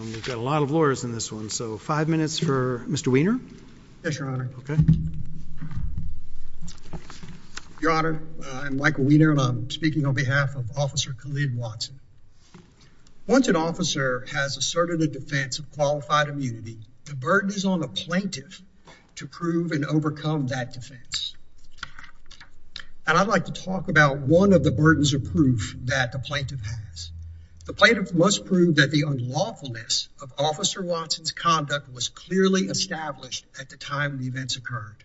We've got a lot of lawyers in this one, so five minutes for Mr. Wiener. Yes, Your Honor. Your Honor, I'm Michael Wiener, and I'm speaking on behalf of Officer Khalid Watson. Once an officer has asserted a defense of qualified immunity, the burden is on the plaintiff to prove and overcome that defense. And I'd like to talk about one of the burdens of proof that the plaintiff has. The plaintiff must prove that the unlawfulness of Officer Watson's conduct was clearly established at the time the events occurred.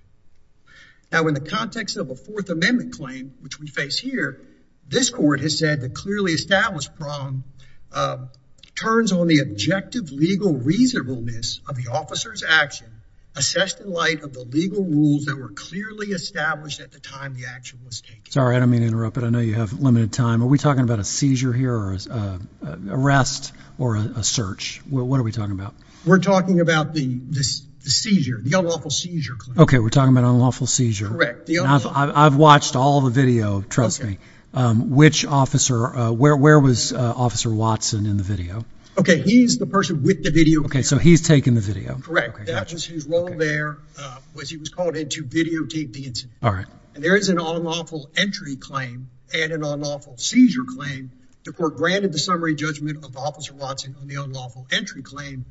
Now, in the context of a Fourth Amendment claim, which we face here, this court has said the clearly established problem turns on the objective legal reasonableness of the officer's action assessed in light of the legal rules that were clearly established at the time the action was taken. Sorry, I don't mean to interrupt, but I know you have limited time. Are we talking about a seizure here or an arrest or a search? What are we talking about? We're talking about the seizure, the unlawful seizure claim. Okay, we're talking about unlawful seizure. Correct. I've watched all the video. Trust me. Which officer, where was Officer Watson in the video? Okay, he's the person with the video. Okay, so he's taking the video. Correct. His role there was he was called in to videotape the incident. All right. And there is an unlawful entry claim and an unlawful seizure claim. The court granted the summary judgment of Officer Watson on the unlawful entry claim,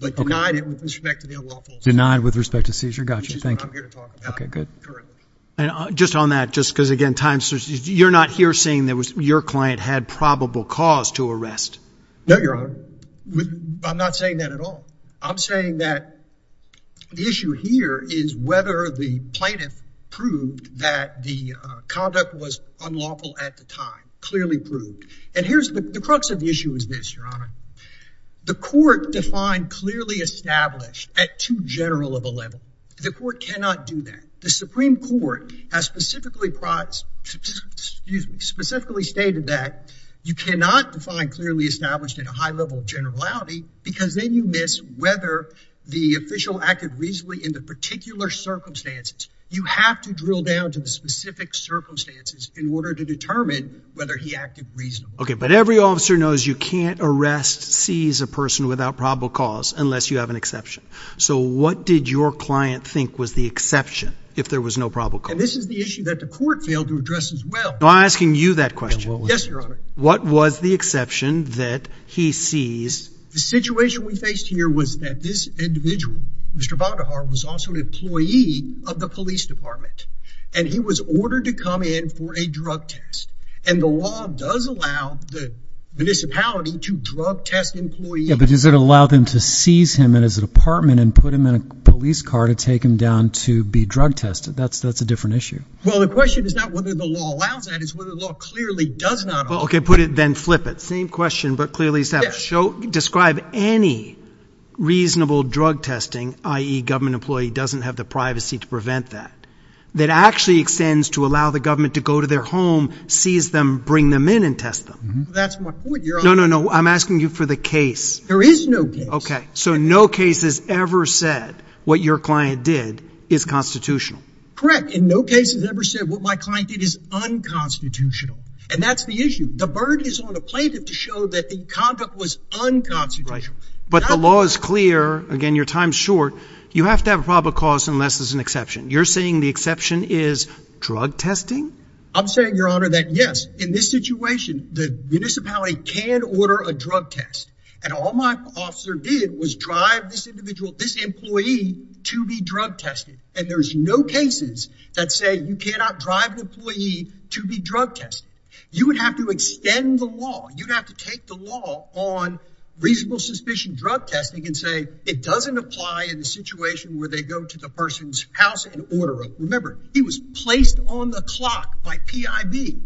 but denied it with respect to the unlawful seizure. Denied with respect to seizure. I got you. Thank you. That's what I'm here to talk about. Okay, good. Currently. And just on that, just because, again, you're not here saying your client had probable cause to arrest. No, Your Honor. I'm not saying that at all. I'm saying that the issue here is whether the plaintiff proved that the conduct was unlawful at the time, clearly proved. And here's the crux of the issue is this, Your Honor. The court defined clearly established at too general of a level. The court cannot do that. The Supreme Court has specifically, excuse me, specifically stated that you cannot define clearly established at a high level of generality because then you miss whether the official acted reasonably in the particular circumstances. You have to drill down to the specific circumstances in order to determine whether he acted reasonably. Okay. But every officer knows you can't arrest, seize a person without probable cause unless you have an exception. So, what did your client think was the exception if there was no probable cause? And this is the issue that the court failed to address as well. No, I'm asking you that question. Yes, Your Honor. What was the exception that he seized? The situation we faced here was that this individual, Mr. Badajar, was also an employee of the police department. And he was ordered to come in for a drug test. And the law does allow the municipality to drug test employees. Yeah, but does it allow them to seize him in his apartment and put him in a police car to take him down to be drug tested? That's a different issue. Well, the question is not whether the law allows that. It's whether the law clearly does not allow that. Okay, put it, then flip it. Same question, but clearly established. Describe any reasonable drug testing, i.e., government employee doesn't have the privacy to prevent that. That actually extends to allow the government to go to their home, seize them, bring them in, and test them. That's my point, Your Honor. No, no, no. I'm asking you for the case. There is no case. Okay, so no case has ever said what your client did is constitutional. Correct, and no case has ever said what my client did is unconstitutional. And that's the issue. The burden is on the plaintiff to show that the conduct was unconstitutional. Right, but the law is clear. Again, your time's short. You have to have a probable cause unless there's an exception. You're saying the exception is drug testing? I'm saying, Your Honor, that yes, in this situation, the municipality can order a drug test. And all my officer did was drive this individual, this employee, to be drug tested. And there's no cases that say you cannot drive an employee to be drug tested. You would have to extend the law. You'd have to take the law on reasonable suspicion drug testing and say, it doesn't apply in a situation where they go to the person's house and order them. Remember, he was placed on the clock by PIB.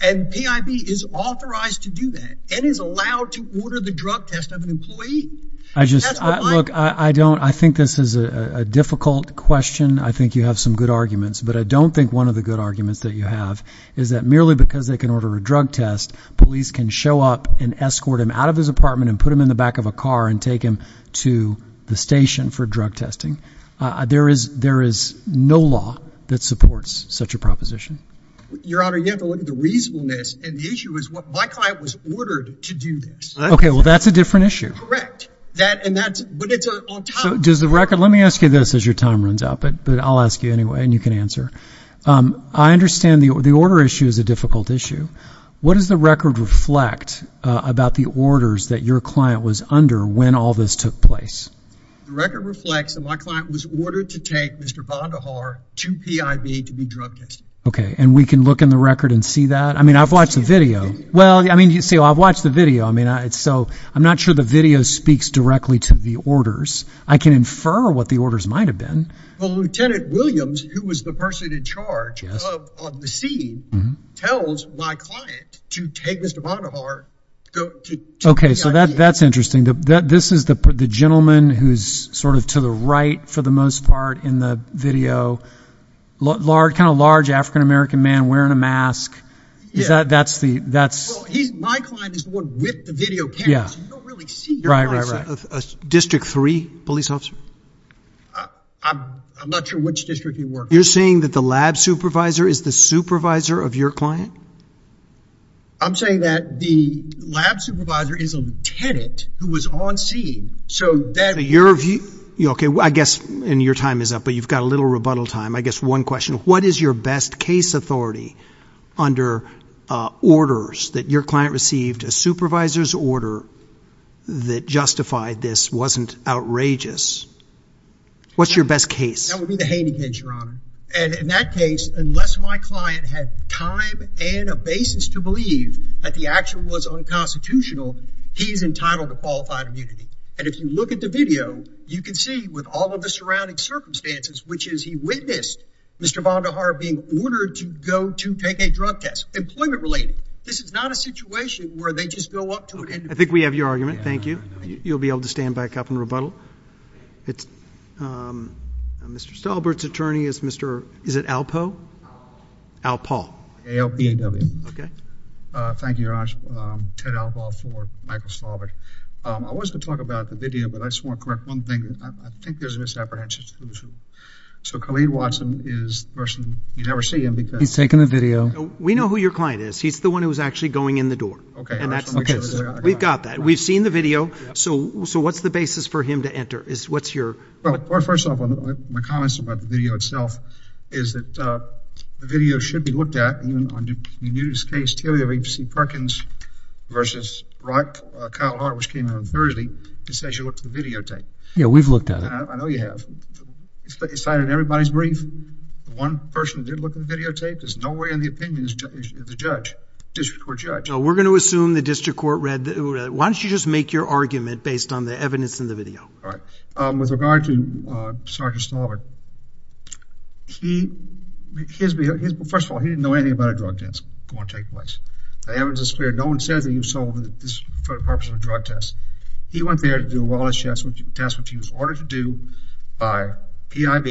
And PIB is authorized to do that and is allowed to order the drug test of an employee? Look, I think this is a difficult question. I think you have some good arguments. But I don't think one of the good arguments that you have is that merely because they can order a drug test, police can show up and escort him out of his apartment and put him in the back of a car and take him to the station for drug testing. There is no law that supports such a proposition. Your Honor, you have to look at the reasonableness. And the issue is, my client was ordered to do this. OK, well, that's a different issue. Correct. But it's on time. Let me ask you this as your time runs out. But I'll ask you anyway. And you can answer. I understand the order issue is a difficult issue. What does the record reflect about the orders that your client was under when all this took place? The record reflects that my client was ordered to take Mr. Vonderhaar to PIB to be drug tested. OK. And we can look in the record and see that? I mean, I've watched the video. Well, I mean, you see, I've watched the video. I mean, so I'm not sure the video speaks directly to the orders. I can infer what the orders might have been. Well, Lieutenant Williams, who was the person in charge on the scene, tells my client to take Mr. Vonderhaar to PIB. OK, so that's interesting. This is the gentleman who's sort of to the right for the most part in the video, kind of large African-American man wearing a mask. That's the – Well, my client is the one with the video cameras. You don't really see your client. District 3 police officer? I'm not sure which district you're working. You're saying that the lab supervisor is the supervisor of your client? I'm saying that the lab supervisor is a lieutenant who was on scene so that – OK, I guess – and your time is up, but you've got a little rebuttal time. I guess one question. What is your best case authority under orders that your client received, a supervisor's order that justified this wasn't outrageous? What's your best case? That would be the Haney case, Your Honor. And in that case, unless my client had time and a basis to believe that the action was unconstitutional, he is entitled to qualified immunity. And if you look at the video, you can see with all of the surrounding circumstances, which is he witnessed Mr. Vonderhaar being ordered to go to take a drug test. Employment-related. This is not a situation where they just go up to an individual. I think we have your argument. Thank you. You'll be able to stand back up and rebuttal. Mr. Stalbert's attorney is Mr. – is it Alpo? Alpo. Alpo. A-L-P-E-W. OK. Thank you, Your Honor. Ted Alpo for Michael Stalbert. I was going to talk about the video, but I just want to correct one thing. I think there's a misapprehension. So Khalid Watson is the person – you never see him because – He's taken the video. We know who your client is. He's the one who's actually going in the door. OK. We've got that. We've seen the video. So what's the basis for him to enter? What's your – Well, first of all, my comments about the video itself is that the video should be looked at. You knew this case, T.L.A. v. C. Perkins v. Rock, Kyle Hart, which came out on Thursday. It says you looked at the videotape. Yeah, we've looked at it. I know you have. It's cited in everybody's brief. The one person who did look at the videotape, there's no way in the opinion of the judge, district court judge. No, we're going to assume the district court read the – why don't you just make your argument based on the evidence in the video? All right. With regard to Sergeant Stalbert, he – his – first of all, he didn't know anything about a drug test going to take place. The evidence is clear. No one says that you sold this for the purpose of a drug test. He went there to do a wellness test, which he was ordered to do by PIB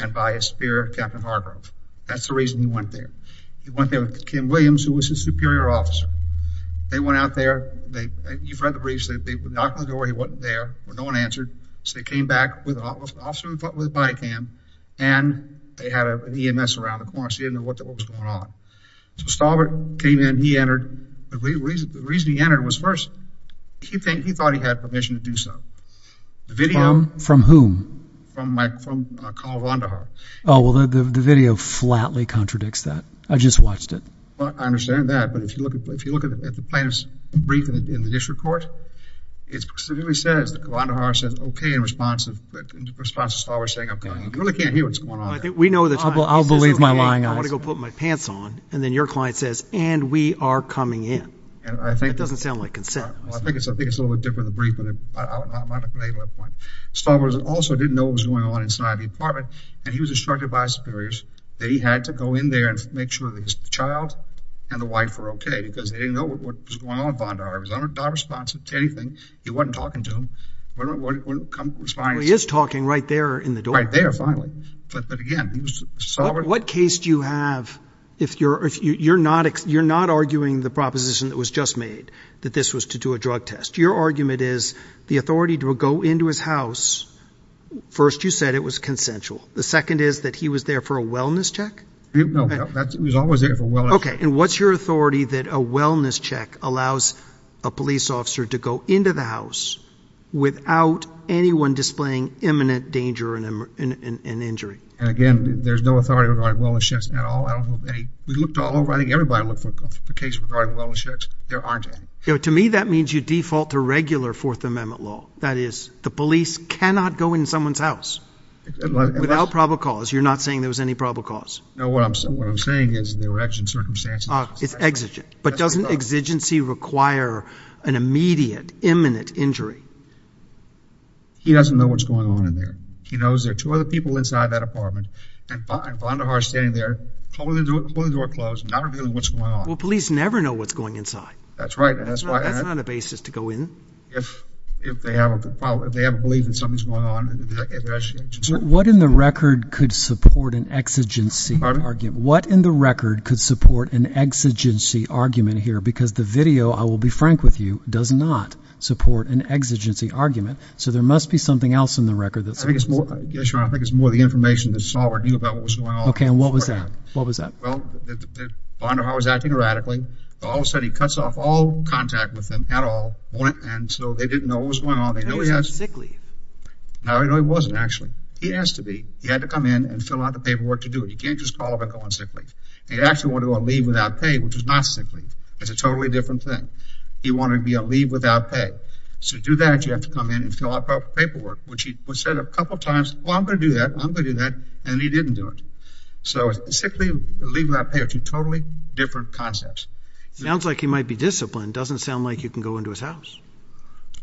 and by his superior, Captain Hargrove. That's the reason he went there. He went there with Kim Williams, who was his superior officer. They went out there. You've read the briefs. They knocked on the door. He wasn't there. No one answered. So they came back with an officer with a body cam, and they had an EMS around the corner. So he didn't know what was going on. So Stalbert came in. He entered. The reason he entered was first, he thought he had permission to do so. The video – From whom? From Colonel Vonderhaar. Oh, well, the video flatly contradicts that. I just watched it. I understand that. But if you look at the plaintiff's brief in the district court, it really says – Vonderhaar says, okay, in response to Stalbert saying, I'm coming. You really can't hear what's going on there. I'll believe my lying eyes. I want to go put my pants on. And then your client says, and we are coming in. That doesn't sound like consent. I think it's a little bit different in the brief, but I'm not going to make that point. Stalbert also didn't know what was going on inside the apartment, and he was instructed by his superiors that he had to go in there and make sure that his child and the wife were okay, because they didn't know what was going on with Vonderhaar. He was not responsive to anything. He wasn't talking to them. He wouldn't respond. Well, he is talking right there in the door. Right there, finally. But, again, he was – What case do you have if you're not arguing the proposition that was just made, that this was to do a drug test? Your argument is the authority to go into his house. First, you said it was consensual. The second is that he was there for a wellness check? No. He was always there for a wellness check. Okay. And what's your authority that a wellness check allows a police officer to go into the house without anyone displaying imminent danger and injury? And, again, there's no authority regarding wellness checks at all. I don't know of any. We looked all over. I think everybody looked for a case regarding wellness checks. There aren't any. To me, that means you default to regular Fourth Amendment law. That is, the police cannot go in someone's house without probable cause. No. What I'm saying is there were exigent circumstances. It's exigent. But doesn't exigency require an immediate, imminent injury? He doesn't know what's going on in there. He knows there are two other people inside that apartment, and Vonderhaar is standing there, completely door closed, not revealing what's going on. Well, police never know what's going on inside. That's right. That's not a basis to go in. If they have a belief that something's going on. What in the record could support an exigency argument? Pardon? What in the record could support an exigency argument here? Because the video, I will be frank with you, does not support an exigency argument. So, there must be something else in the record that supports it. I think it's more of the information that's not revealed about what's going on. Okay, and what was that? What was that? Well, Vonderhaar was acting erratically. All of a sudden, he cuts off all contact with them at all, and so they didn't know what was going on. How did he sound sickly? No, he wasn't, actually. He has to be. He had to come in and fill out the paperwork to do it. You can't just call up and go on sick leave. He actually wanted to go on leave without pay, which is not sick leave. It's a totally different thing. He wanted to be on leave without pay. To do that, you have to come in and fill out the paperwork, which he said a couple times, well, I'm going to do that, I'm going to do that, and he didn't do it. So, sick leave and leave without pay are two totally different concepts. Sounds like he might be disciplined. Doesn't sound like he can go into his house.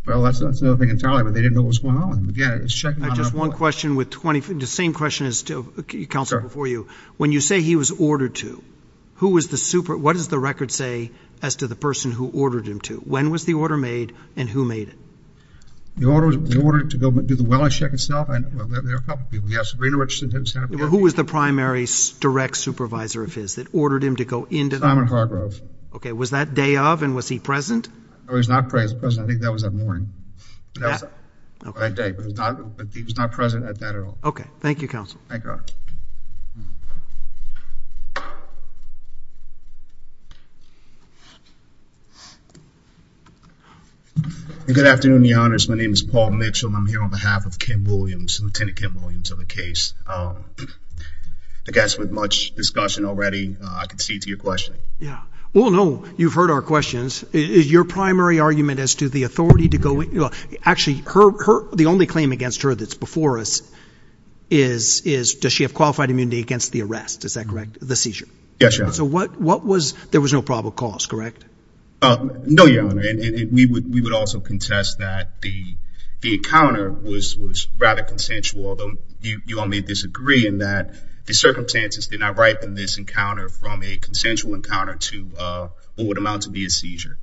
Well, that's the other thing entirely, but they didn't know what was going on. Again, it's checking on our blood. I have just one question, the same question as to counsel before you. When you say he was ordered to, who was the super – what does the record say as to the person who ordered him to? When was the order made and who made it? They ordered him to go do the wellness check himself. There were a couple of people. Yes, Sabrina Richardson did it. Who was the primary direct supervisor of his that ordered him to go into the – Simon Hargrove. Okay. Was that day of and was he present? No, he was not present. I think that was that morning. Yeah. That day, but he was not present at that at all. Okay. Thank you, counsel. Thank God. Good afternoon, Your Honors. My name is Paul Mitchell, and I'm here on behalf of Kim Williams, Lieutenant Kim Williams of the case. I guess with much discussion already, I can see to your question. Yeah. Well, no, you've heard our questions. Is your primary argument as to the authority to go – actually, the only claim against her that's before us is, does she have qualified immunity against the arrest? Is that correct? The seizure? Yes, Your Honor. So what was – there was no probable cause, correct? No, Your Honor. We would also contest that the encounter was rather consensual. You all may disagree in that the circumstances did not ripen this encounter from a consensual encounter to what would amount to be a seizure.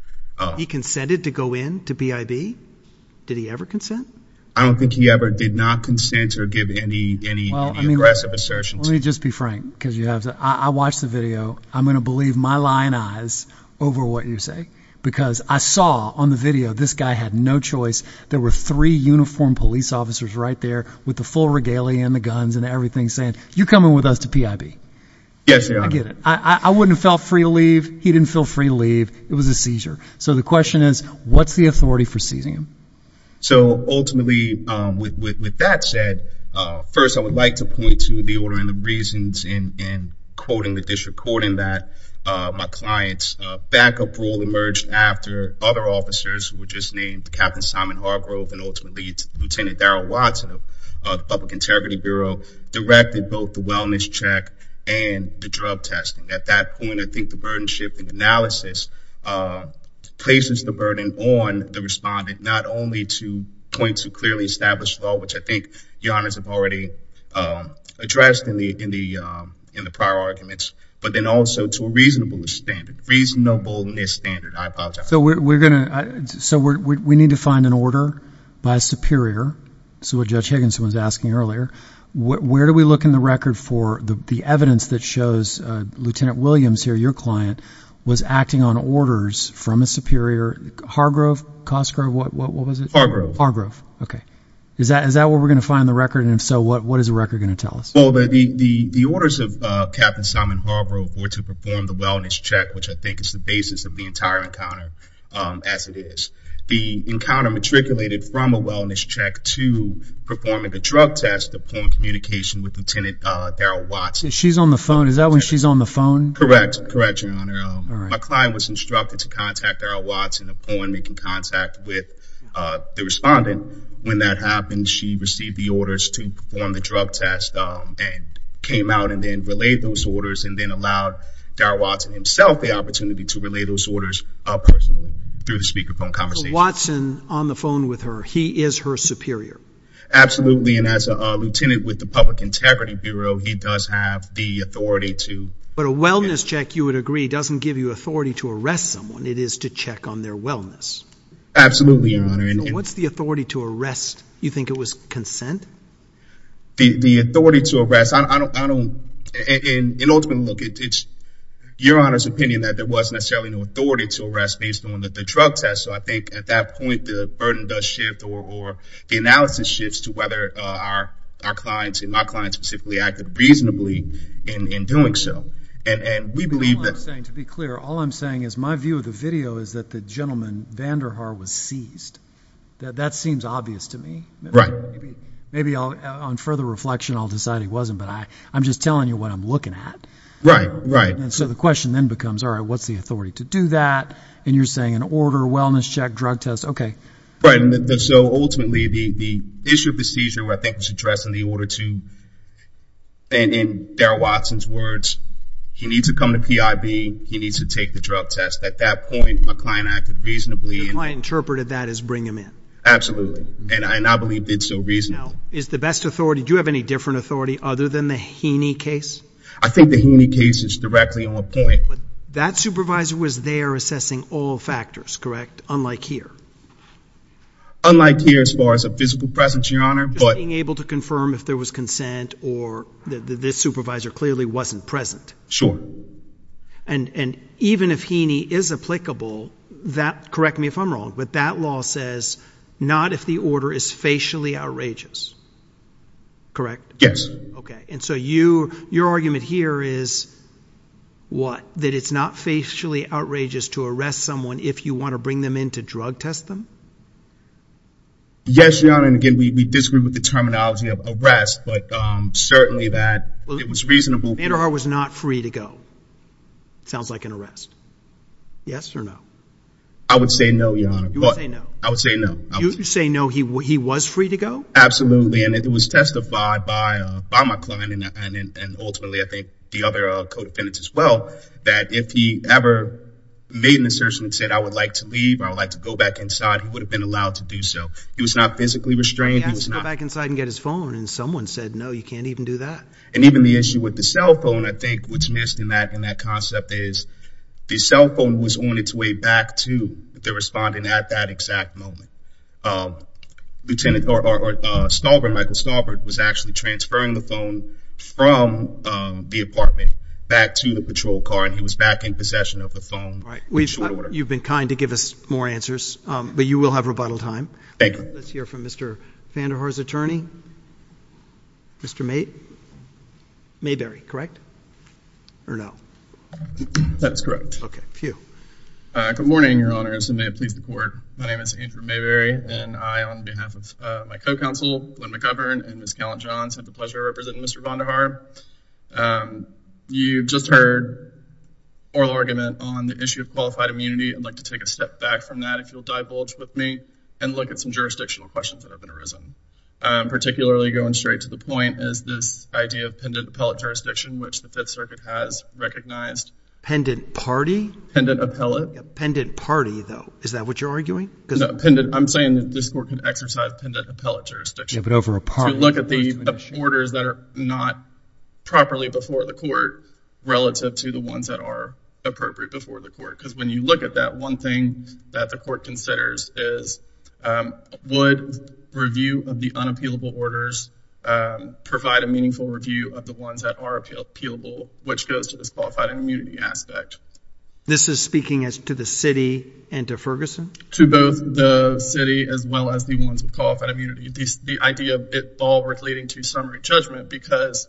He consented to go in to PIB? Did he ever consent? I don't think he ever did not consent or give any aggressive assertion. Let me just be frank because you have to – I watched the video. I'm going to believe my lying eyes over what you say because I saw on the video, this guy had no choice. There were three uniformed police officers right there with the full regalia and the guns and everything saying, you're coming with us to PIB. Yes, Your Honor. I get it. I wouldn't have felt free to leave. He didn't feel free to leave. It was a seizure. So the question is, what's the authority for seizing him? So ultimately, with that said, first I would like to point to the order and the reasons in quoting the disrecording that my client's backup rule emerged after other officers who were just named Captain Simon Hargrove and ultimately Lieutenant Daryl Watson of the Public Integrity Bureau directed both the wellness check and the drug testing. At that point, I think the burden-shifting analysis places the burden on the respondent, not only to point to clearly established law, which I think Your Honors have already addressed in the prior arguments, but then also to a reasonableness standard. I apologize. So we need to find an order by a superior. This is what Judge Higginson was asking earlier. Where do we look in the record for the evidence that shows Lieutenant Williams here, your client, was acting on orders from a superior? Hargrove? Cosgrove? What was it? Hargrove. Hargrove. Okay. Is that where we're going to find the record? And if so, what is the record going to tell us? Well, the orders of Captain Simon Hargrove were to perform the wellness check, which I think is the basis of the entire encounter as it is. The encounter matriculated from a wellness check to performing a drug test upon communication with Lieutenant Daryl Watson. She's on the phone. Is that when she's on the phone? Correct. Correct, Your Honor. My client was instructed to contact Daryl Watson upon making contact with the respondent. When that happened, she received the orders to perform the drug test and came out and then relayed those orders and then allowed Daryl Watson himself the opportunity to relay those orders personally through the speakerphone conversation. So Watson on the phone with her. He is her superior. Absolutely. And as a lieutenant with the Public Integrity Bureau, he does have the authority to... But a wellness check, you would agree, doesn't give you authority to arrest someone. It is to check on their wellness. Absolutely, Your Honor. And what's the authority to arrest? You think it was consent? The authority to arrest, I don't... And ultimately, look, it's Your Honor's opinion that there was necessarily no authority to arrest based on the drug test. So I think at that point, the burden does shift or the analysis shifts to whether our clients and my clients specifically acted reasonably in doing so. And we believe that... All I'm saying, to be clear, all I'm saying is my view of the video is that the gentleman, Vanderhaar, was seized. That seems obvious to me. Right. Maybe on further reflection, I'll decide he wasn't. But I'm just telling you what I'm looking at. Right, right. And so the question then becomes, all right, what's the authority to do that? And you're saying an order, a wellness check, drug test, okay. Right. And so ultimately, the issue of the seizure, I think, was addressed in the order to... And in Darrell Watson's words, he needs to come to PIB, he needs to take the drug test. At that point, my client acted reasonably. Your client interpreted that as bring him in. Absolutely. And I believe they did so reasonably. Now, is the best authority... Your Honor, do you have any different authority other than the Heaney case? I think the Heaney case is directly on point. That supervisor was there assessing all factors, correct? Unlike here. Unlike here as far as a physical presence, Your Honor, but... Just being able to confirm if there was consent or this supervisor clearly wasn't present. Sure. And even if Heaney is applicable, correct me if I'm wrong, but that law says, not if the order is facially outrageous, correct? Yes. Okay. And so your argument here is what? That it's not facially outrageous to arrest someone if you want to bring them in to drug test them? Yes, Your Honor. And again, we disagree with the terminology of arrest, but certainly that it was reasonable... Anderhart was not free to go. Sounds like an arrest. Yes or no? I would say no, Your Honor. You would say no? I would say no. You would say no, he was free to go? Absolutely, and it was testified by my client and ultimately I think the other co-defendants as well, that if he ever made an assertion and said, I would like to leave, I would like to go back inside, he would have been allowed to do so. He was not physically restrained. He had to go back inside and get his phone, and someone said, no, you can't even do that. And even the issue with the cell phone, I think what's missed in that concept is the cell phone was on its way back to the respondent at that exact moment. Michael Staubert was actually transferring the phone from the apartment back to the patrol car, and he was back in possession of the phone. You've been kind to give us more answers, but you will have rebuttal time. Thank you. Let's hear from Mr. Anderhart's attorney, Mr. Mayberry, correct? Or no? That's correct. Okay, Pugh. Good morning, Your Honors, and may it please the Court. My name is Andrew Mayberry, and I, on behalf of my co-counsel, Glen McGovern, and Ms. Callan-Jones, have the pleasure of representing Mr. Vonderhaar. You've just heard oral argument on the issue of qualified immunity. I'd like to take a step back from that, if you'll divulge with me, and look at some jurisdictional questions that have arisen. Particularly going straight to the point is this idea of pendent appellate jurisdiction, which the Fifth Circuit has recognized. Pendent party? Pendent appellate. Pendent party, though. Is that what you're arguing? No, I'm saying that this Court can exercise pendent appellate jurisdiction. Yeah, but over a pardon. If you look at the orders that are not properly before the Court, relative to the ones that are appropriate before the Court. Because when you look at that, one thing that the Court considers is, would review of the unappealable orders provide a meaningful review of the ones that are appealable, which goes to this qualified immunity aspect. This is speaking to the city and to Ferguson? To both the city as well as the ones with qualified immunity. The idea of it all relating to summary judgment because...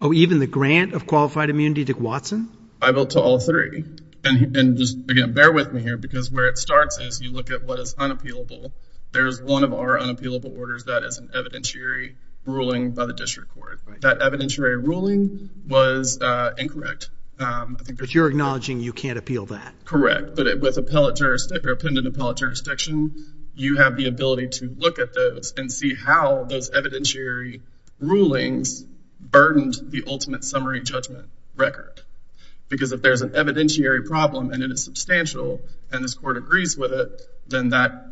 Oh, even the grant of qualified immunity to Watson? I vote to all three. And just, again, bear with me here, because where it starts is you look at what is unappealable. There's one of our unappealable orders that is an evidentiary ruling by the was incorrect. But you're acknowledging you can't appeal that? Correct. But with pendent appellate jurisdiction, you have the ability to look at those and see how those evidentiary rulings burdened the ultimate summary judgment record. Because if there's an evidentiary problem and it is substantial and this Court agrees with it, then that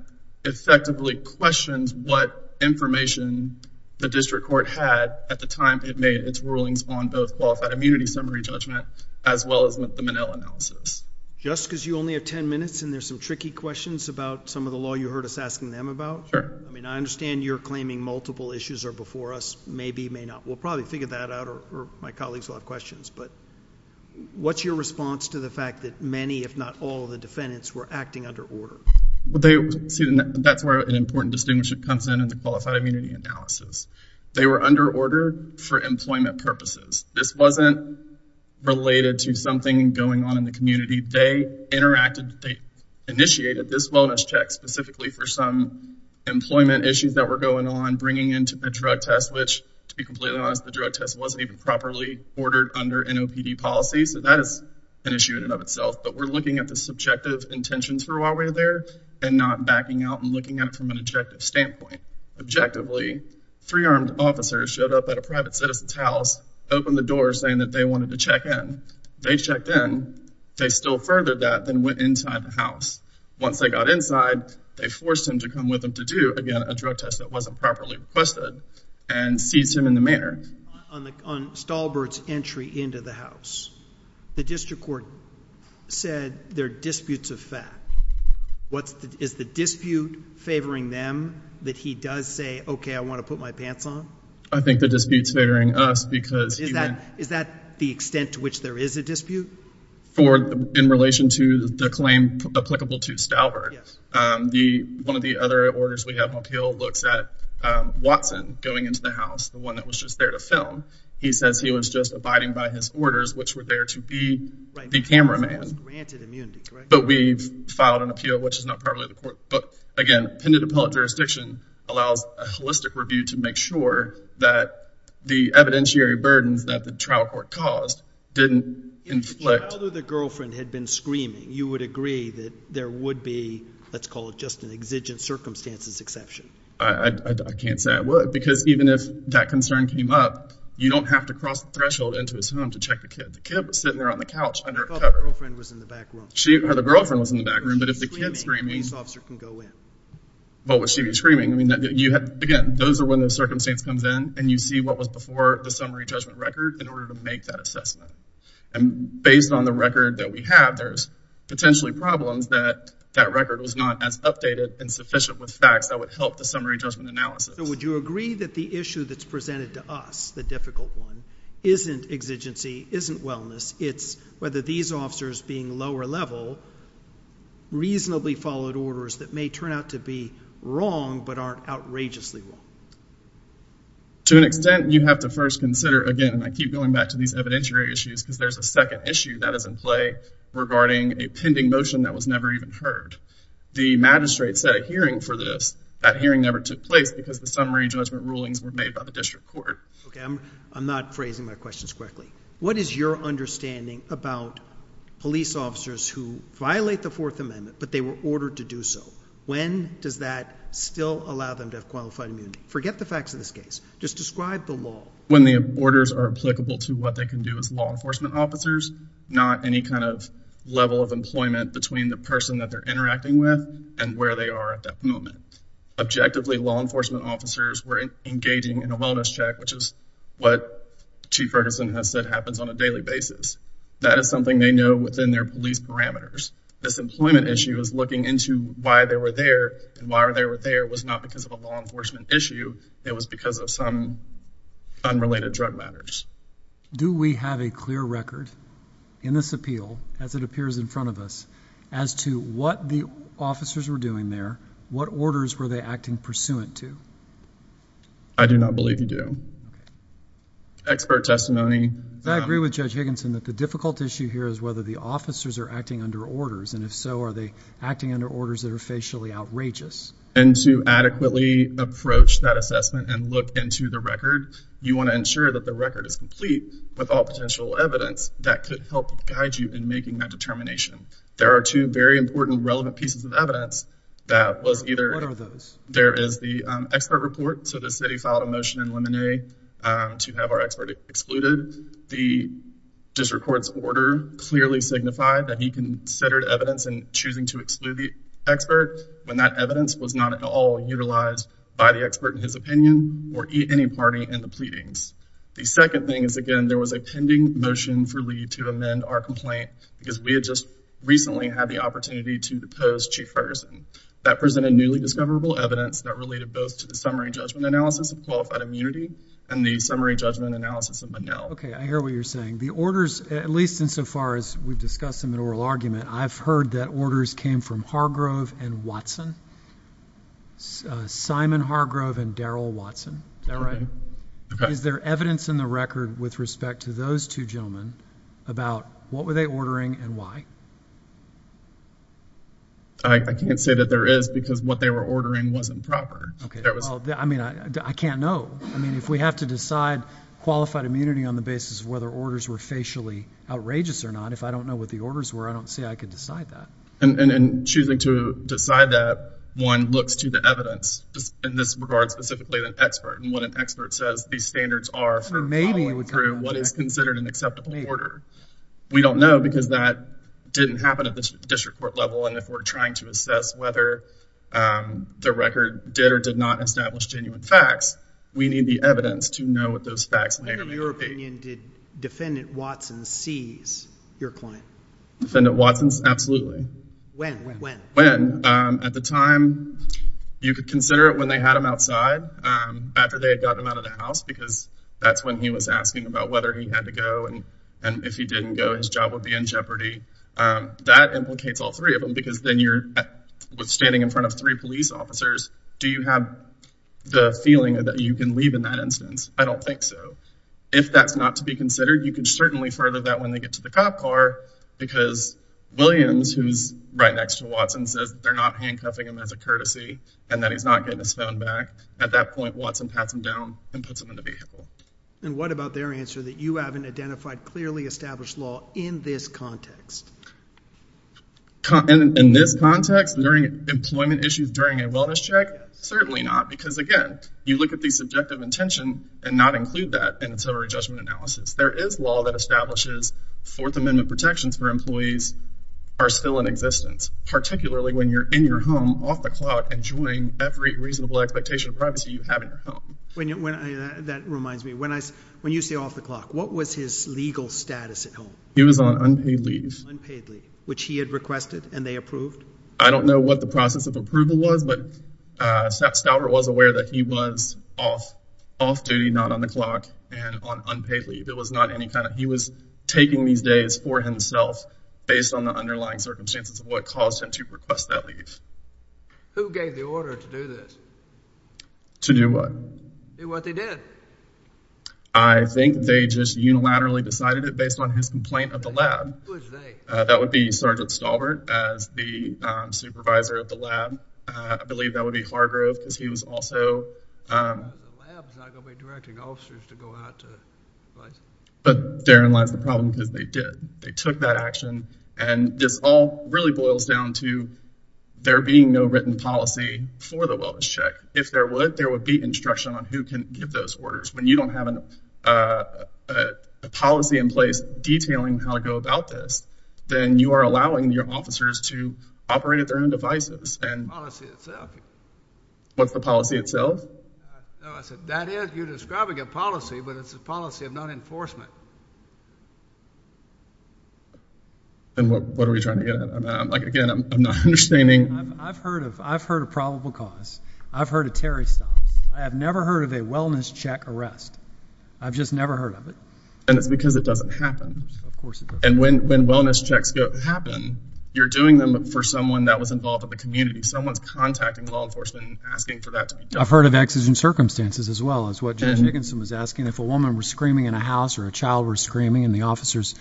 effectively questions what information the district court had at the time it made its rulings on both qualified immunity summary judgment as well as the Monell analysis. Just because you only have ten minutes and there's some tricky questions about some of the law you heard us asking them about? Sure. I mean, I understand you're claiming multiple issues are before us, maybe, may not. We'll probably figure that out or my colleagues will have questions. But what's your response to the fact that many, if not all of the defendants were acting under order? That's where an important distinguishing comes in, in the qualified immunity analysis. They were under order for employment purposes. This wasn't related to something going on in the community. They interacted. They initiated this wellness check specifically for some employment issues that were going on, bringing into the drug test, which to be completely honest, the drug test wasn't even properly ordered under NOPD policy. So that is an issue in and of itself. But we're looking at the subjective intentions for a while there and not backing out and looking at it from an objective standpoint. Objectively, three armed officers showed up at a private citizen's house, opened the door saying that they wanted to check in. They checked in. They still furthered that, then went inside the house. Once they got inside, they forced him to come with them to do, again, a drug test that wasn't properly requested and seized him in the manor. On Stalbert's entry into the house, the district court said there are disputes of fact. Is the dispute favoring them, that he does say, okay, I want to put my pants on? I think the dispute's favoring us because he went. Is that the extent to which there is a dispute? In relation to the claim applicable to Stalbert. Yes. One of the other orders we have on appeal looks at Watson going into the house, the one that was just there to film. He says he was just abiding by his orders, which were there to be the cameraman. But we've filed an appeal, which is not probably the court. But again, appended appellate jurisdiction allows a holistic review to make sure that the evidentiary burdens that the trial court caused didn't inflict. If the child or the girlfriend had been screaming, you would agree that there would be, let's call it, just an exigent circumstances exception. I can't say I would because even if that concern came up, you don't have to cross the threshold into his home to check the kid. The kid was sitting there on the couch under a cover. The girlfriend was in the back room. The girlfriend was in the back room. But if the kid's screaming. The police officer can go in. But would she be screaming? Again, those are when the circumstance comes in and you see what was before the summary judgment record in order to make that assessment. And based on the record that we have, there's potentially problems that that record was not as updated and sufficient with facts that would help the summary judgment analysis. So would you agree that the issue that's presented to us, the difficult one, isn't exigency, isn't wellness. It's whether these officers being lower level reasonably followed orders that may turn out to be wrong but aren't outrageously wrong. To an extent, you have to first consider, again, and I keep going back to these evidentiary issues because there's a second issue that is in play regarding a pending motion that was never even heard. The magistrate set a hearing for this. That hearing never took place because the summary judgment rulings were made by the district court. Okay, I'm not phrasing my questions correctly. What is your understanding about police officers who violate the Fourth Amendment but they were ordered to do so? When does that still allow them to have qualified immunity? Forget the facts of this case. Just describe the law. When the orders are applicable to what they can do as law enforcement officers, not any kind of level of employment between the person that they're interacting with and where they are at that moment. Objectively, law enforcement officers were engaging in a wellness check, which is what Chief Ferguson has said happens on a daily basis. That is something they know within their police parameters. This employment issue is looking into why they were there, and why they were there was not because of a law enforcement issue. It was because of some unrelated drug matters. Do we have a clear record in this appeal, as it appears in front of us, as to what the officers were doing there? What orders were they acting pursuant to? I do not believe you do. Expert testimony. I agree with Judge Higginson that the difficult issue here is whether the officers are acting under orders, and if so, are they acting under orders that are facially outrageous. And to adequately approach that assessment and look into the record, you want to ensure that the record is complete with all potential evidence that could help guide you in making that determination. There are two very important relevant pieces of evidence that was either What are those? There is the expert report. So the city filed a motion in Lemonnier to have our expert excluded. The district court's order clearly signified that he considered evidence in choosing to exclude the expert when that evidence was not at all utilized by the expert in his opinion or any party in the pleadings. The second thing is, again, there was a pending motion for Lee to amend our complaint because we had just recently had the opportunity to depose Chief Ferguson. That presented newly discoverable evidence that related both to the summary judgment analysis of qualified immunity and the summary judgment analysis of Manel. Okay. I hear what you're saying. The orders, at least insofar as we've discussed them in oral argument, I've heard that orders came from Hargrove and Watson, Simon Hargrove and Daryl Watson. Is that right? Okay. Is there evidence in the record with respect to those two gentlemen about what were they ordering and why? I can't say that there is because what they were ordering wasn't proper. Okay. I mean, I can't know. I mean, if we have to decide qualified immunity on the basis of whether orders were facially outrageous or not, if I don't know what the orders were, I don't see. I could decide that. And choosing to decide that one looks to the evidence in this regard, specifically an expert and what an expert says, these standards are for what is considered an acceptable order. We don't know because that didn't happen at the district court level. And if we're trying to assess whether the record did or did not establish genuine facts, we need the evidence to know what those facts may or may not be. In your opinion, did Defendant Watson seize your client? Defendant Watson? Absolutely. When? When? When? At the time, you could consider it when they had him outside after they had gotten him out of the house because that's when he was asking about whether he had to go and if he didn't go, his job would be in jeopardy. That implicates all three of them because then you're standing in front of three police officers. Do you have the feeling that you can leave in that instance? I don't think so. If that's not to be considered, you can certainly further that when they get to the cop car because Williams, who's right next to Watson, says they're not handcuffing him as a courtesy and that he's not getting his phone back. At that point, Watson pats him down and puts him in the vehicle. And what about their answer that you haven't identified clearly established law in this context? In this context, during employment issues during a wellness check, certainly not. Because again, you look at the subjective intention and not include that in ancillary judgment analysis. There is law that establishes Fourth Amendment protections for employees are still in existence, particularly when you're in your home off the clock enjoying every reasonable expectation of privacy you have in your home. That reminds me, when you say off the clock, what was his legal status at home? He was on unpaid leave. Unpaid leave, which he had requested and they approved. I don't know what the process of approval was, but Stauber was aware that he was off duty, not on the clock and on unpaid leave. It was not any kind of, he was taking these days for himself based on the underlying circumstances of what caused him to request that leave. Who gave the order to do this? To do what? To do what they did. I think they just unilaterally decided it based on his complaint of the lab. Who was they? That would be Sergeant Stauber as the supervisor of the lab. I believe that would be Hargrove because he was also. The lab's not going to be directing officers to go out to places. But therein lies the problem because they did. They took that action and this all really boils down to there being no written policy for the wellness check. If there would, there would be instruction on who can give those orders. When you don't have a policy in place detailing how to go about this, then you are allowing your officers to operate at their own devices. The policy itself. What's the policy itself? I said that is, you're describing a policy, but it's a policy of non-enforcement. What are we trying to get at? Again, I'm not understanding. I've heard of probable cause. I've heard of Terry stops. I have never heard of a wellness check arrest. I've just never heard of it. And it's because it doesn't happen. And when wellness checks happen, you're doing them for someone that was involved in the community. Someone's contacting law enforcement and asking for that to be done. I've heard of exigent circumstances as well, as what Jim Dickinson was asking. If a woman was screaming in a house or a child was screaming and the officers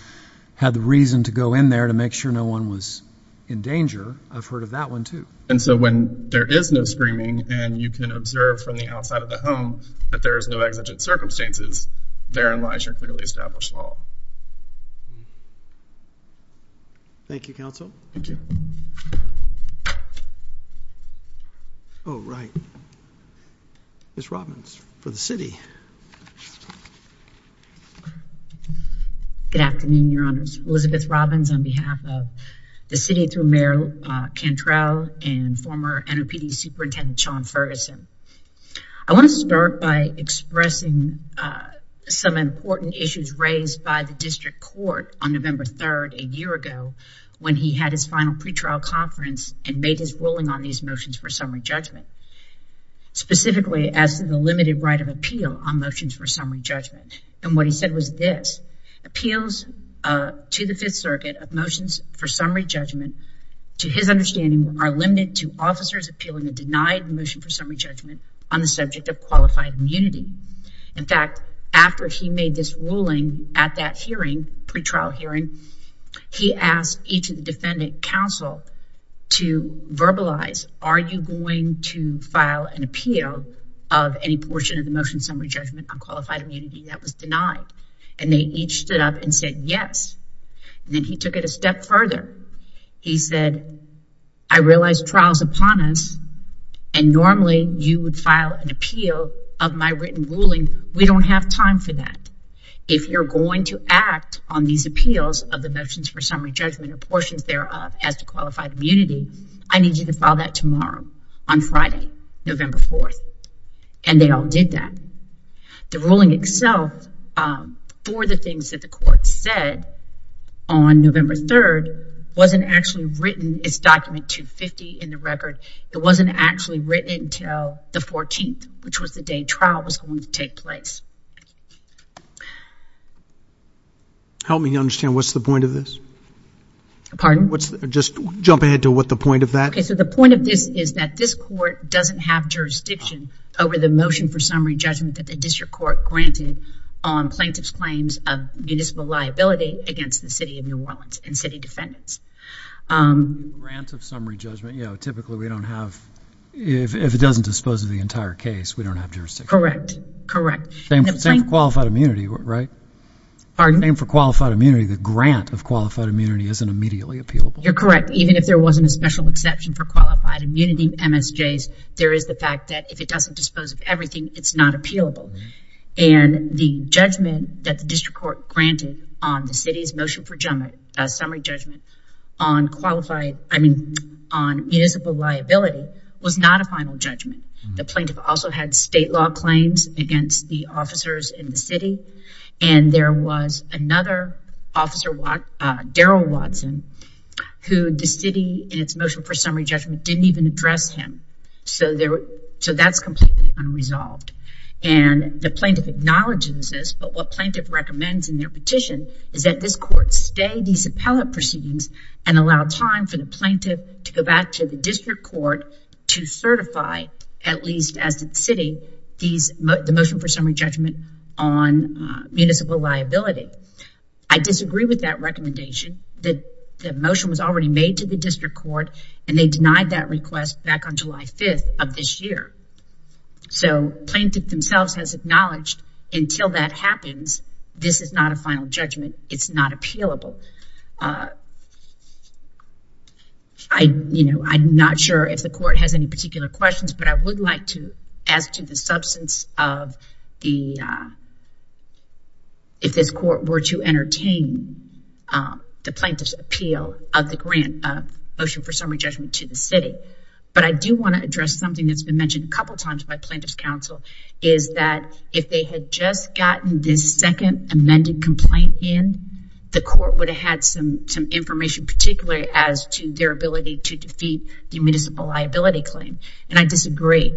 had the reason to go in there to make sure no one was in danger, I've heard of that one too. And so when there is no screaming and you can observe from the outside of the home that there is no exigent circumstances, therein lies your clearly established law. Thank you, counsel. Thank you. Oh, right. Ms. Robbins for the city. Good afternoon, your honors. Elizabeth Robbins on behalf of the city through mayor Cantrell and former NOPD superintendent, Sean Ferguson. I want to start by expressing some important issues raised by the district court on November 3rd, a year ago when he had his final pretrial conference and made his ruling on these motions for summary judgment, specifically as to the limited right of appeal on motions for summary judgment. And what he said was this, appeals to the fifth circuit of motions for summary judgment to his understanding are limited to officers appealing a denied motion for summary judgment on the subject of qualified immunity. In fact, after he made this ruling at that hearing, pretrial hearing, he asked each of the defendant counsel to verbalize, are you going to file an appeal of any portion of the motion summary judgment on qualified immunity that was denied? And they each stood up and said, yes. And then he took it a step further. He said, I realize trial's upon us. And normally you would file an appeal of my written ruling. We don't have time for that. If you're going to act on these appeals of the motions for summary judgment or portions thereof as to qualified immunity, I need you to file that tomorrow on Friday, November 4th. And they all did that. The ruling itself for the things that the court said on November 3rd, wasn't actually written. It's document 250 in the record. It wasn't actually written until the 14th, which was the day trial was going to take place. Help me understand. What's the point of this? Pardon? Just jump ahead to what the point of that. So the point of this is that this court doesn't have jurisdiction over the jurisdiction that your court granted on plaintiff's claims of municipal liability against the city of New Orleans and city defendants. Grant of summary judgment. You know, typically we don't have, if it doesn't dispose of the entire case, we don't have jurisdiction. Correct. Correct. Same for qualified immunity, right? Pardon? Same for qualified immunity. The grant of qualified immunity isn't immediately appealable. You're correct. Even if there wasn't a special exception for qualified immunity MSJs, there is the fact that if it doesn't dispose of everything, it's not appealable. And the judgment that the district court granted on the city's motion for summary judgment on qualified, I mean on municipal liability was not a final judgment. The plaintiff also had state law claims against the officers in the city. And there was another officer, Daryl Watson, who the city in its motion for summary judgment didn't even address him. So that's completely unresolved. And the plaintiff acknowledges this, but what plaintiff recommends in their petition is that this court stay these appellate proceedings and allow time for the plaintiff to go back to the district court to certify, at least as the city, the motion for summary judgment on municipal liability. I disagree with that recommendation that the motion was already made to the 5th of this year. So plaintiff themselves has acknowledged until that happens, this is not a final judgment. It's not appealable. I, you know, I'm not sure if the court has any particular questions, but I would like to ask to the substance of the, if this court were to entertain the plaintiff's appeal of the grant of motion for summary judgment to the city, but I do want to address something that's been mentioned a couple of times by plaintiff's counsel is that if they had just gotten this second amended complaint in, the court would have had some, some information particularly as to their ability to defeat the municipal liability claim. And I disagree.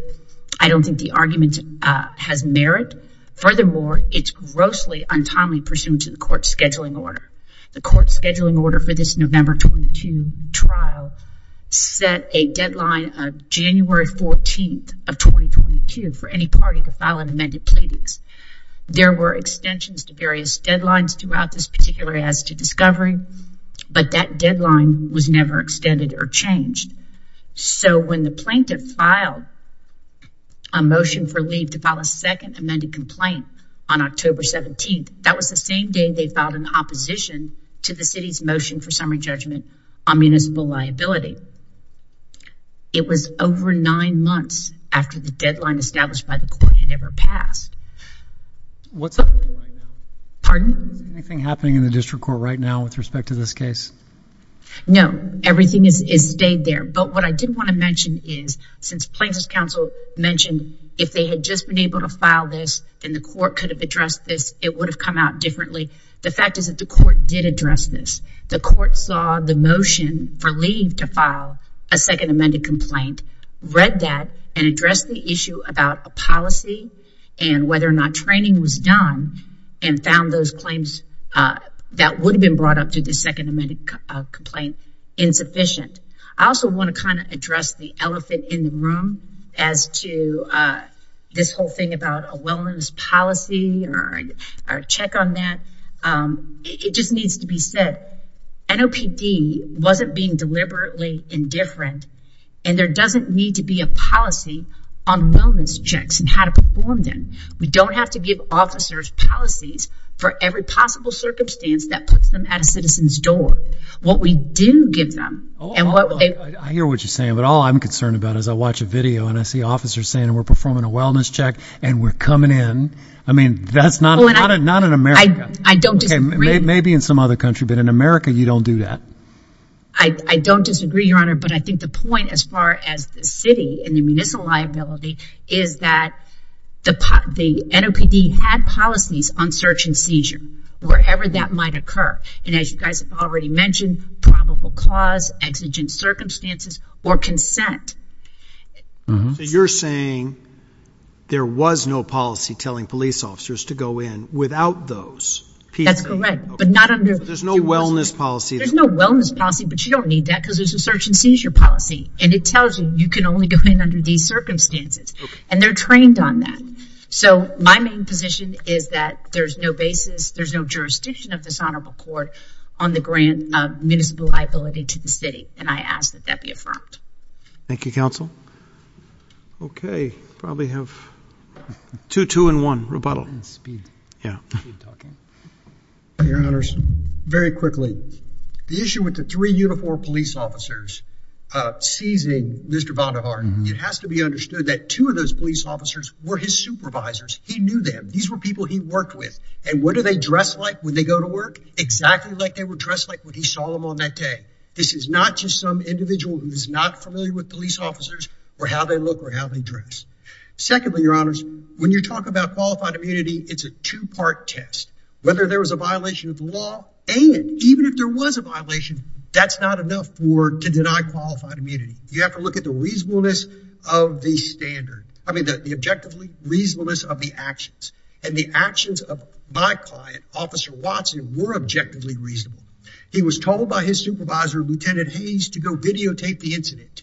I don't think the argument has merit. Furthermore, it's grossly untimely pursuant to the court scheduling order, the court scheduling order for this November 22 trial set a deadline of January 14th of 2022 for any party to file an amended pleadings. There were extensions to various deadlines throughout this particular as to discovery, but that deadline was never extended or changed. So when the plaintiff filed a motion for leave to file a second amended complaint on October 17th, that was the same day they filed an opposition to the city's motion for summary judgment on municipal liability. It was over nine months after the deadline established by the court had ever passed. What's up? Pardon? Anything happening in the district court right now with respect to this case? No, everything is, is stayed there. But what I did want to mention is since plaintiff's counsel mentioned if they had just been able to file this and the court could have addressed this, it would have come out differently. The fact is that the court did address this. The court saw the motion for leave to file a second amended complaint, read that and address the issue about a policy and whether or not training was done and found those claims that would have been brought up to the second amended complaint insufficient. I also want to kind of address the elephant in the room as to this whole thing about a wellness policy or a check on that. It just needs to be said, NOPD wasn't being deliberately indifferent and there doesn't need to be a policy on wellness checks and how to perform them. We don't have to give officers policies for every possible circumstance that puts them at a citizen's door. What we do give them. I hear what you're saying, but all I'm concerned about is I watch a video and I see officers saying we're performing a wellness check and we're coming in. I mean, that's not, not in America. I don't disagree. Maybe in some other country, but in America you don't do that. I don't disagree, Your Honor, but I think the point as far as the city and the municipal liability is that the NOPD had policies on search and seizure wherever that might occur. And as you guys have already mentioned, probable cause, exigent circumstances or consent. So you're saying there was no policy telling police officers to go in without those? That's correct, but not under. There's no wellness policy. There's no wellness policy, but you don't need that because there's a search and seizure policy and it tells you you can only go in under these circumstances and they're trained on that. So my main position is that there's no basis, there's no jurisdiction of this honorable court on the grant of municipal liability to the city. And I ask that that be affirmed. Thank you, counsel. Okay. Probably have two, two and one rebuttal. Yeah. Your Honors, very quickly. The issue with the three Unifor police officers, uh, seizing Mr. Vonderhaar, it has to be understood that two of those police officers were his supervisors. He knew them. These were people he worked with. And what do they dress like when they go to work? Exactly like they were dressed like when he saw them on that day. This is not just some individual who is not familiar with police officers or how they look or how they dress. Secondly, Your Honors, when you talk about qualified immunity, it's a two part test, whether there was a violation of the law. And even if there was a violation, that's not enough for to deny qualified immunity. You have to look at the reasonableness of the standard. I mean, the objectively reasonableness of the actions and the actions of my client, Officer Watson, were objectively reasonable. He was told by his supervisor, Lieutenant Hayes, to go videotape the incident.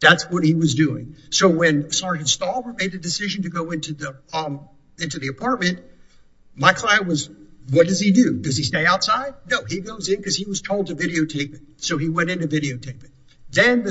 That's what he was doing. So when Sergeant Stahl made the decision to go into the apartment, my client was, what does he do? Does he stay outside? No, he goes in because he was told to videotape it. So he went in to videotape it. Then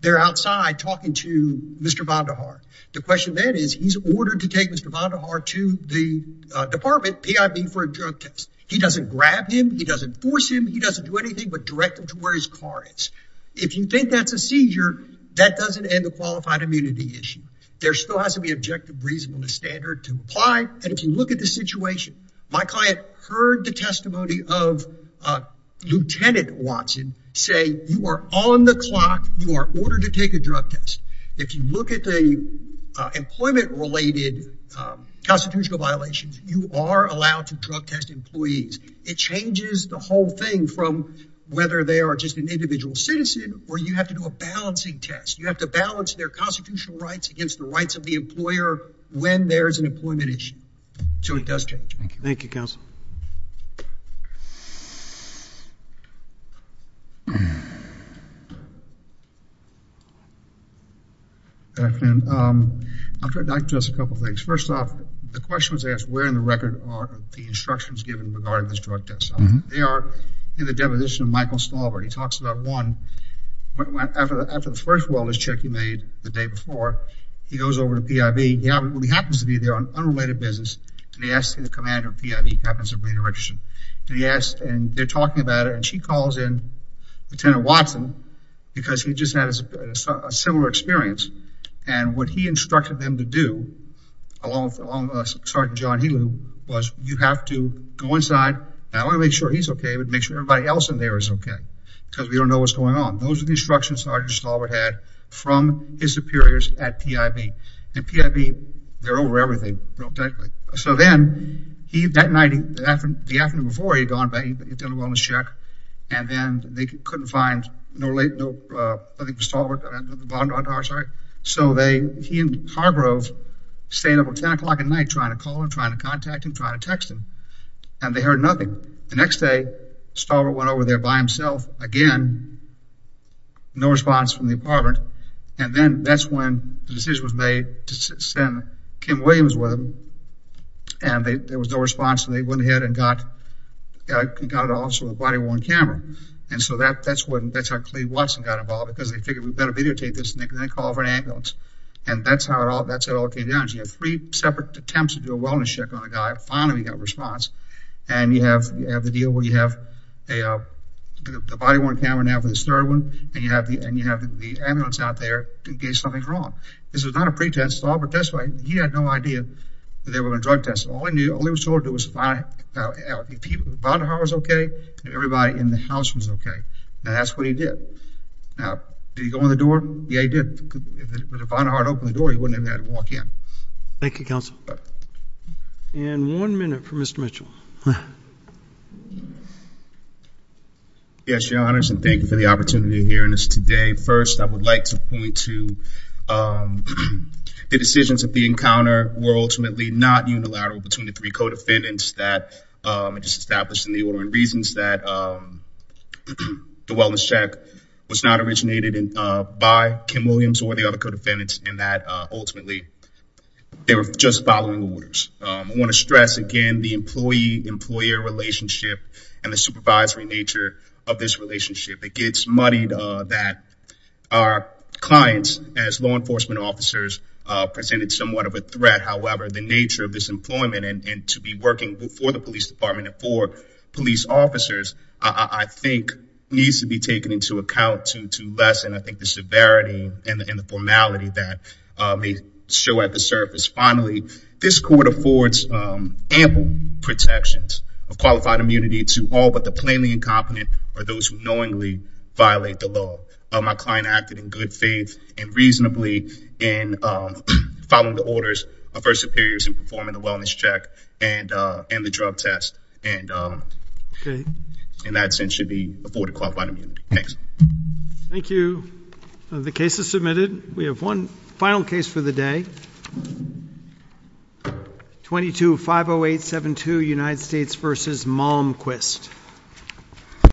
they're outside talking to Mr. Vonderhaar. The question then is he's ordered to take Mr. Vonderhaar to the department, PIB for a drug test. He doesn't grab him. He doesn't force him. He doesn't do anything but direct him to where his car is. If you think that's a seizure, that doesn't end the qualified immunity issue. There still has to be objective reasonableness standard to apply. And if you look at the situation, my client heard the testimony of Lieutenant Watson say you are on the clock, you are ordered to take a drug test. If you look at the employment-related constitutional violations, you are allowed to drug test employees. It changes the whole thing from whether they are just an individual citizen or you have to do a balancing test. You have to balance their constitutional rights against the rights of the employer when there's an employment issue. So it does change. Thank you. Thank you, counsel. Good afternoon. I'd like to address a couple of things. First off, the question was asked where in the record are the instructions given regarding this drug test. They are in the deposition of Michael Stalbert. He talks about one. After the first wellness check he made the day before, he goes over to PIB. He happens to be there on unrelated business. And he asks the commander of PIB, happens to be in Richardson. And they're talking about it. And she calls in Lieutenant Watson because he just had a similar experience. And what he instructed them to do, along with Sergeant John Helu, was you have to go inside, not only make sure he's okay, but make sure everybody else in there is okay because we don't know what's going on. Those are the instructions Sergeant Stalbert had from his superiors at PIB. And PIB, they're over everything real tightly. So then, that night, the afternoon before he had gone back, he'd done a wellness check, and then they couldn't find nothing for Stalbert. So he and Hargrove stayed up until 10 o'clock at night trying to call him, trying to contact him, trying to text him. And they heard nothing. The next day, Stalbert went over there by himself again, no response from the apartment. And then that's when the decision was made to send Kim Williams with him, and there was no response. And they went ahead and got an officer with a body-worn camera. And so that's how Cleve Watson got involved because they figured we'd better videotape this, and they called for an ambulance. And that's how it all came down. You have three separate attempts to do a wellness check on a guy. Finally, we got a response. And you have the deal where you have a body-worn camera now for this third one, and you have the ambulance out there to gauge something's wrong. This was not a pretense. Stalbert, that's why he had no idea that they were going to drug test him. All he knew, all he was told to do was find out if Bonhart was okay and everybody in the house was okay. And that's what he did. Now, did he go in the door? Yeah, he did. If Bonhart had opened the door, he wouldn't have had to walk in. Thank you, Counsel. And one minute for Mr. Mitchell. Yes, Your Honors, and thank you for the opportunity of hearing this today. First, I would like to point to the decisions at the encounter were ultimately not unilateral between the three co-defendants that were just established in the order and reasons that the wellness check was not originated by Kim Williams or the other co-defendants and that ultimately they were just following orders. I want to stress, again, the employee-employer relationship and the supervisory nature of this relationship. It gets muddied that our clients, as law enforcement officers, presented somewhat of a threat. However, the nature of this employment and to be working for the police department and for police officers, I think, needs to be taken into account to lessen, I think, the severity and the formality that may show at the surface. Finally, this court affords ample protections of qualified immunity to all but the plainly incompetent or those who knowingly violate the law. My client acted in good faith and reasonably in following the orders of her superiors in performing the wellness check and the drug test, and in that sense should be afforded qualified immunity. Thanks. Thank you. The case is submitted. We have one final case for the day, 22-508-72, United States v. Malmquist.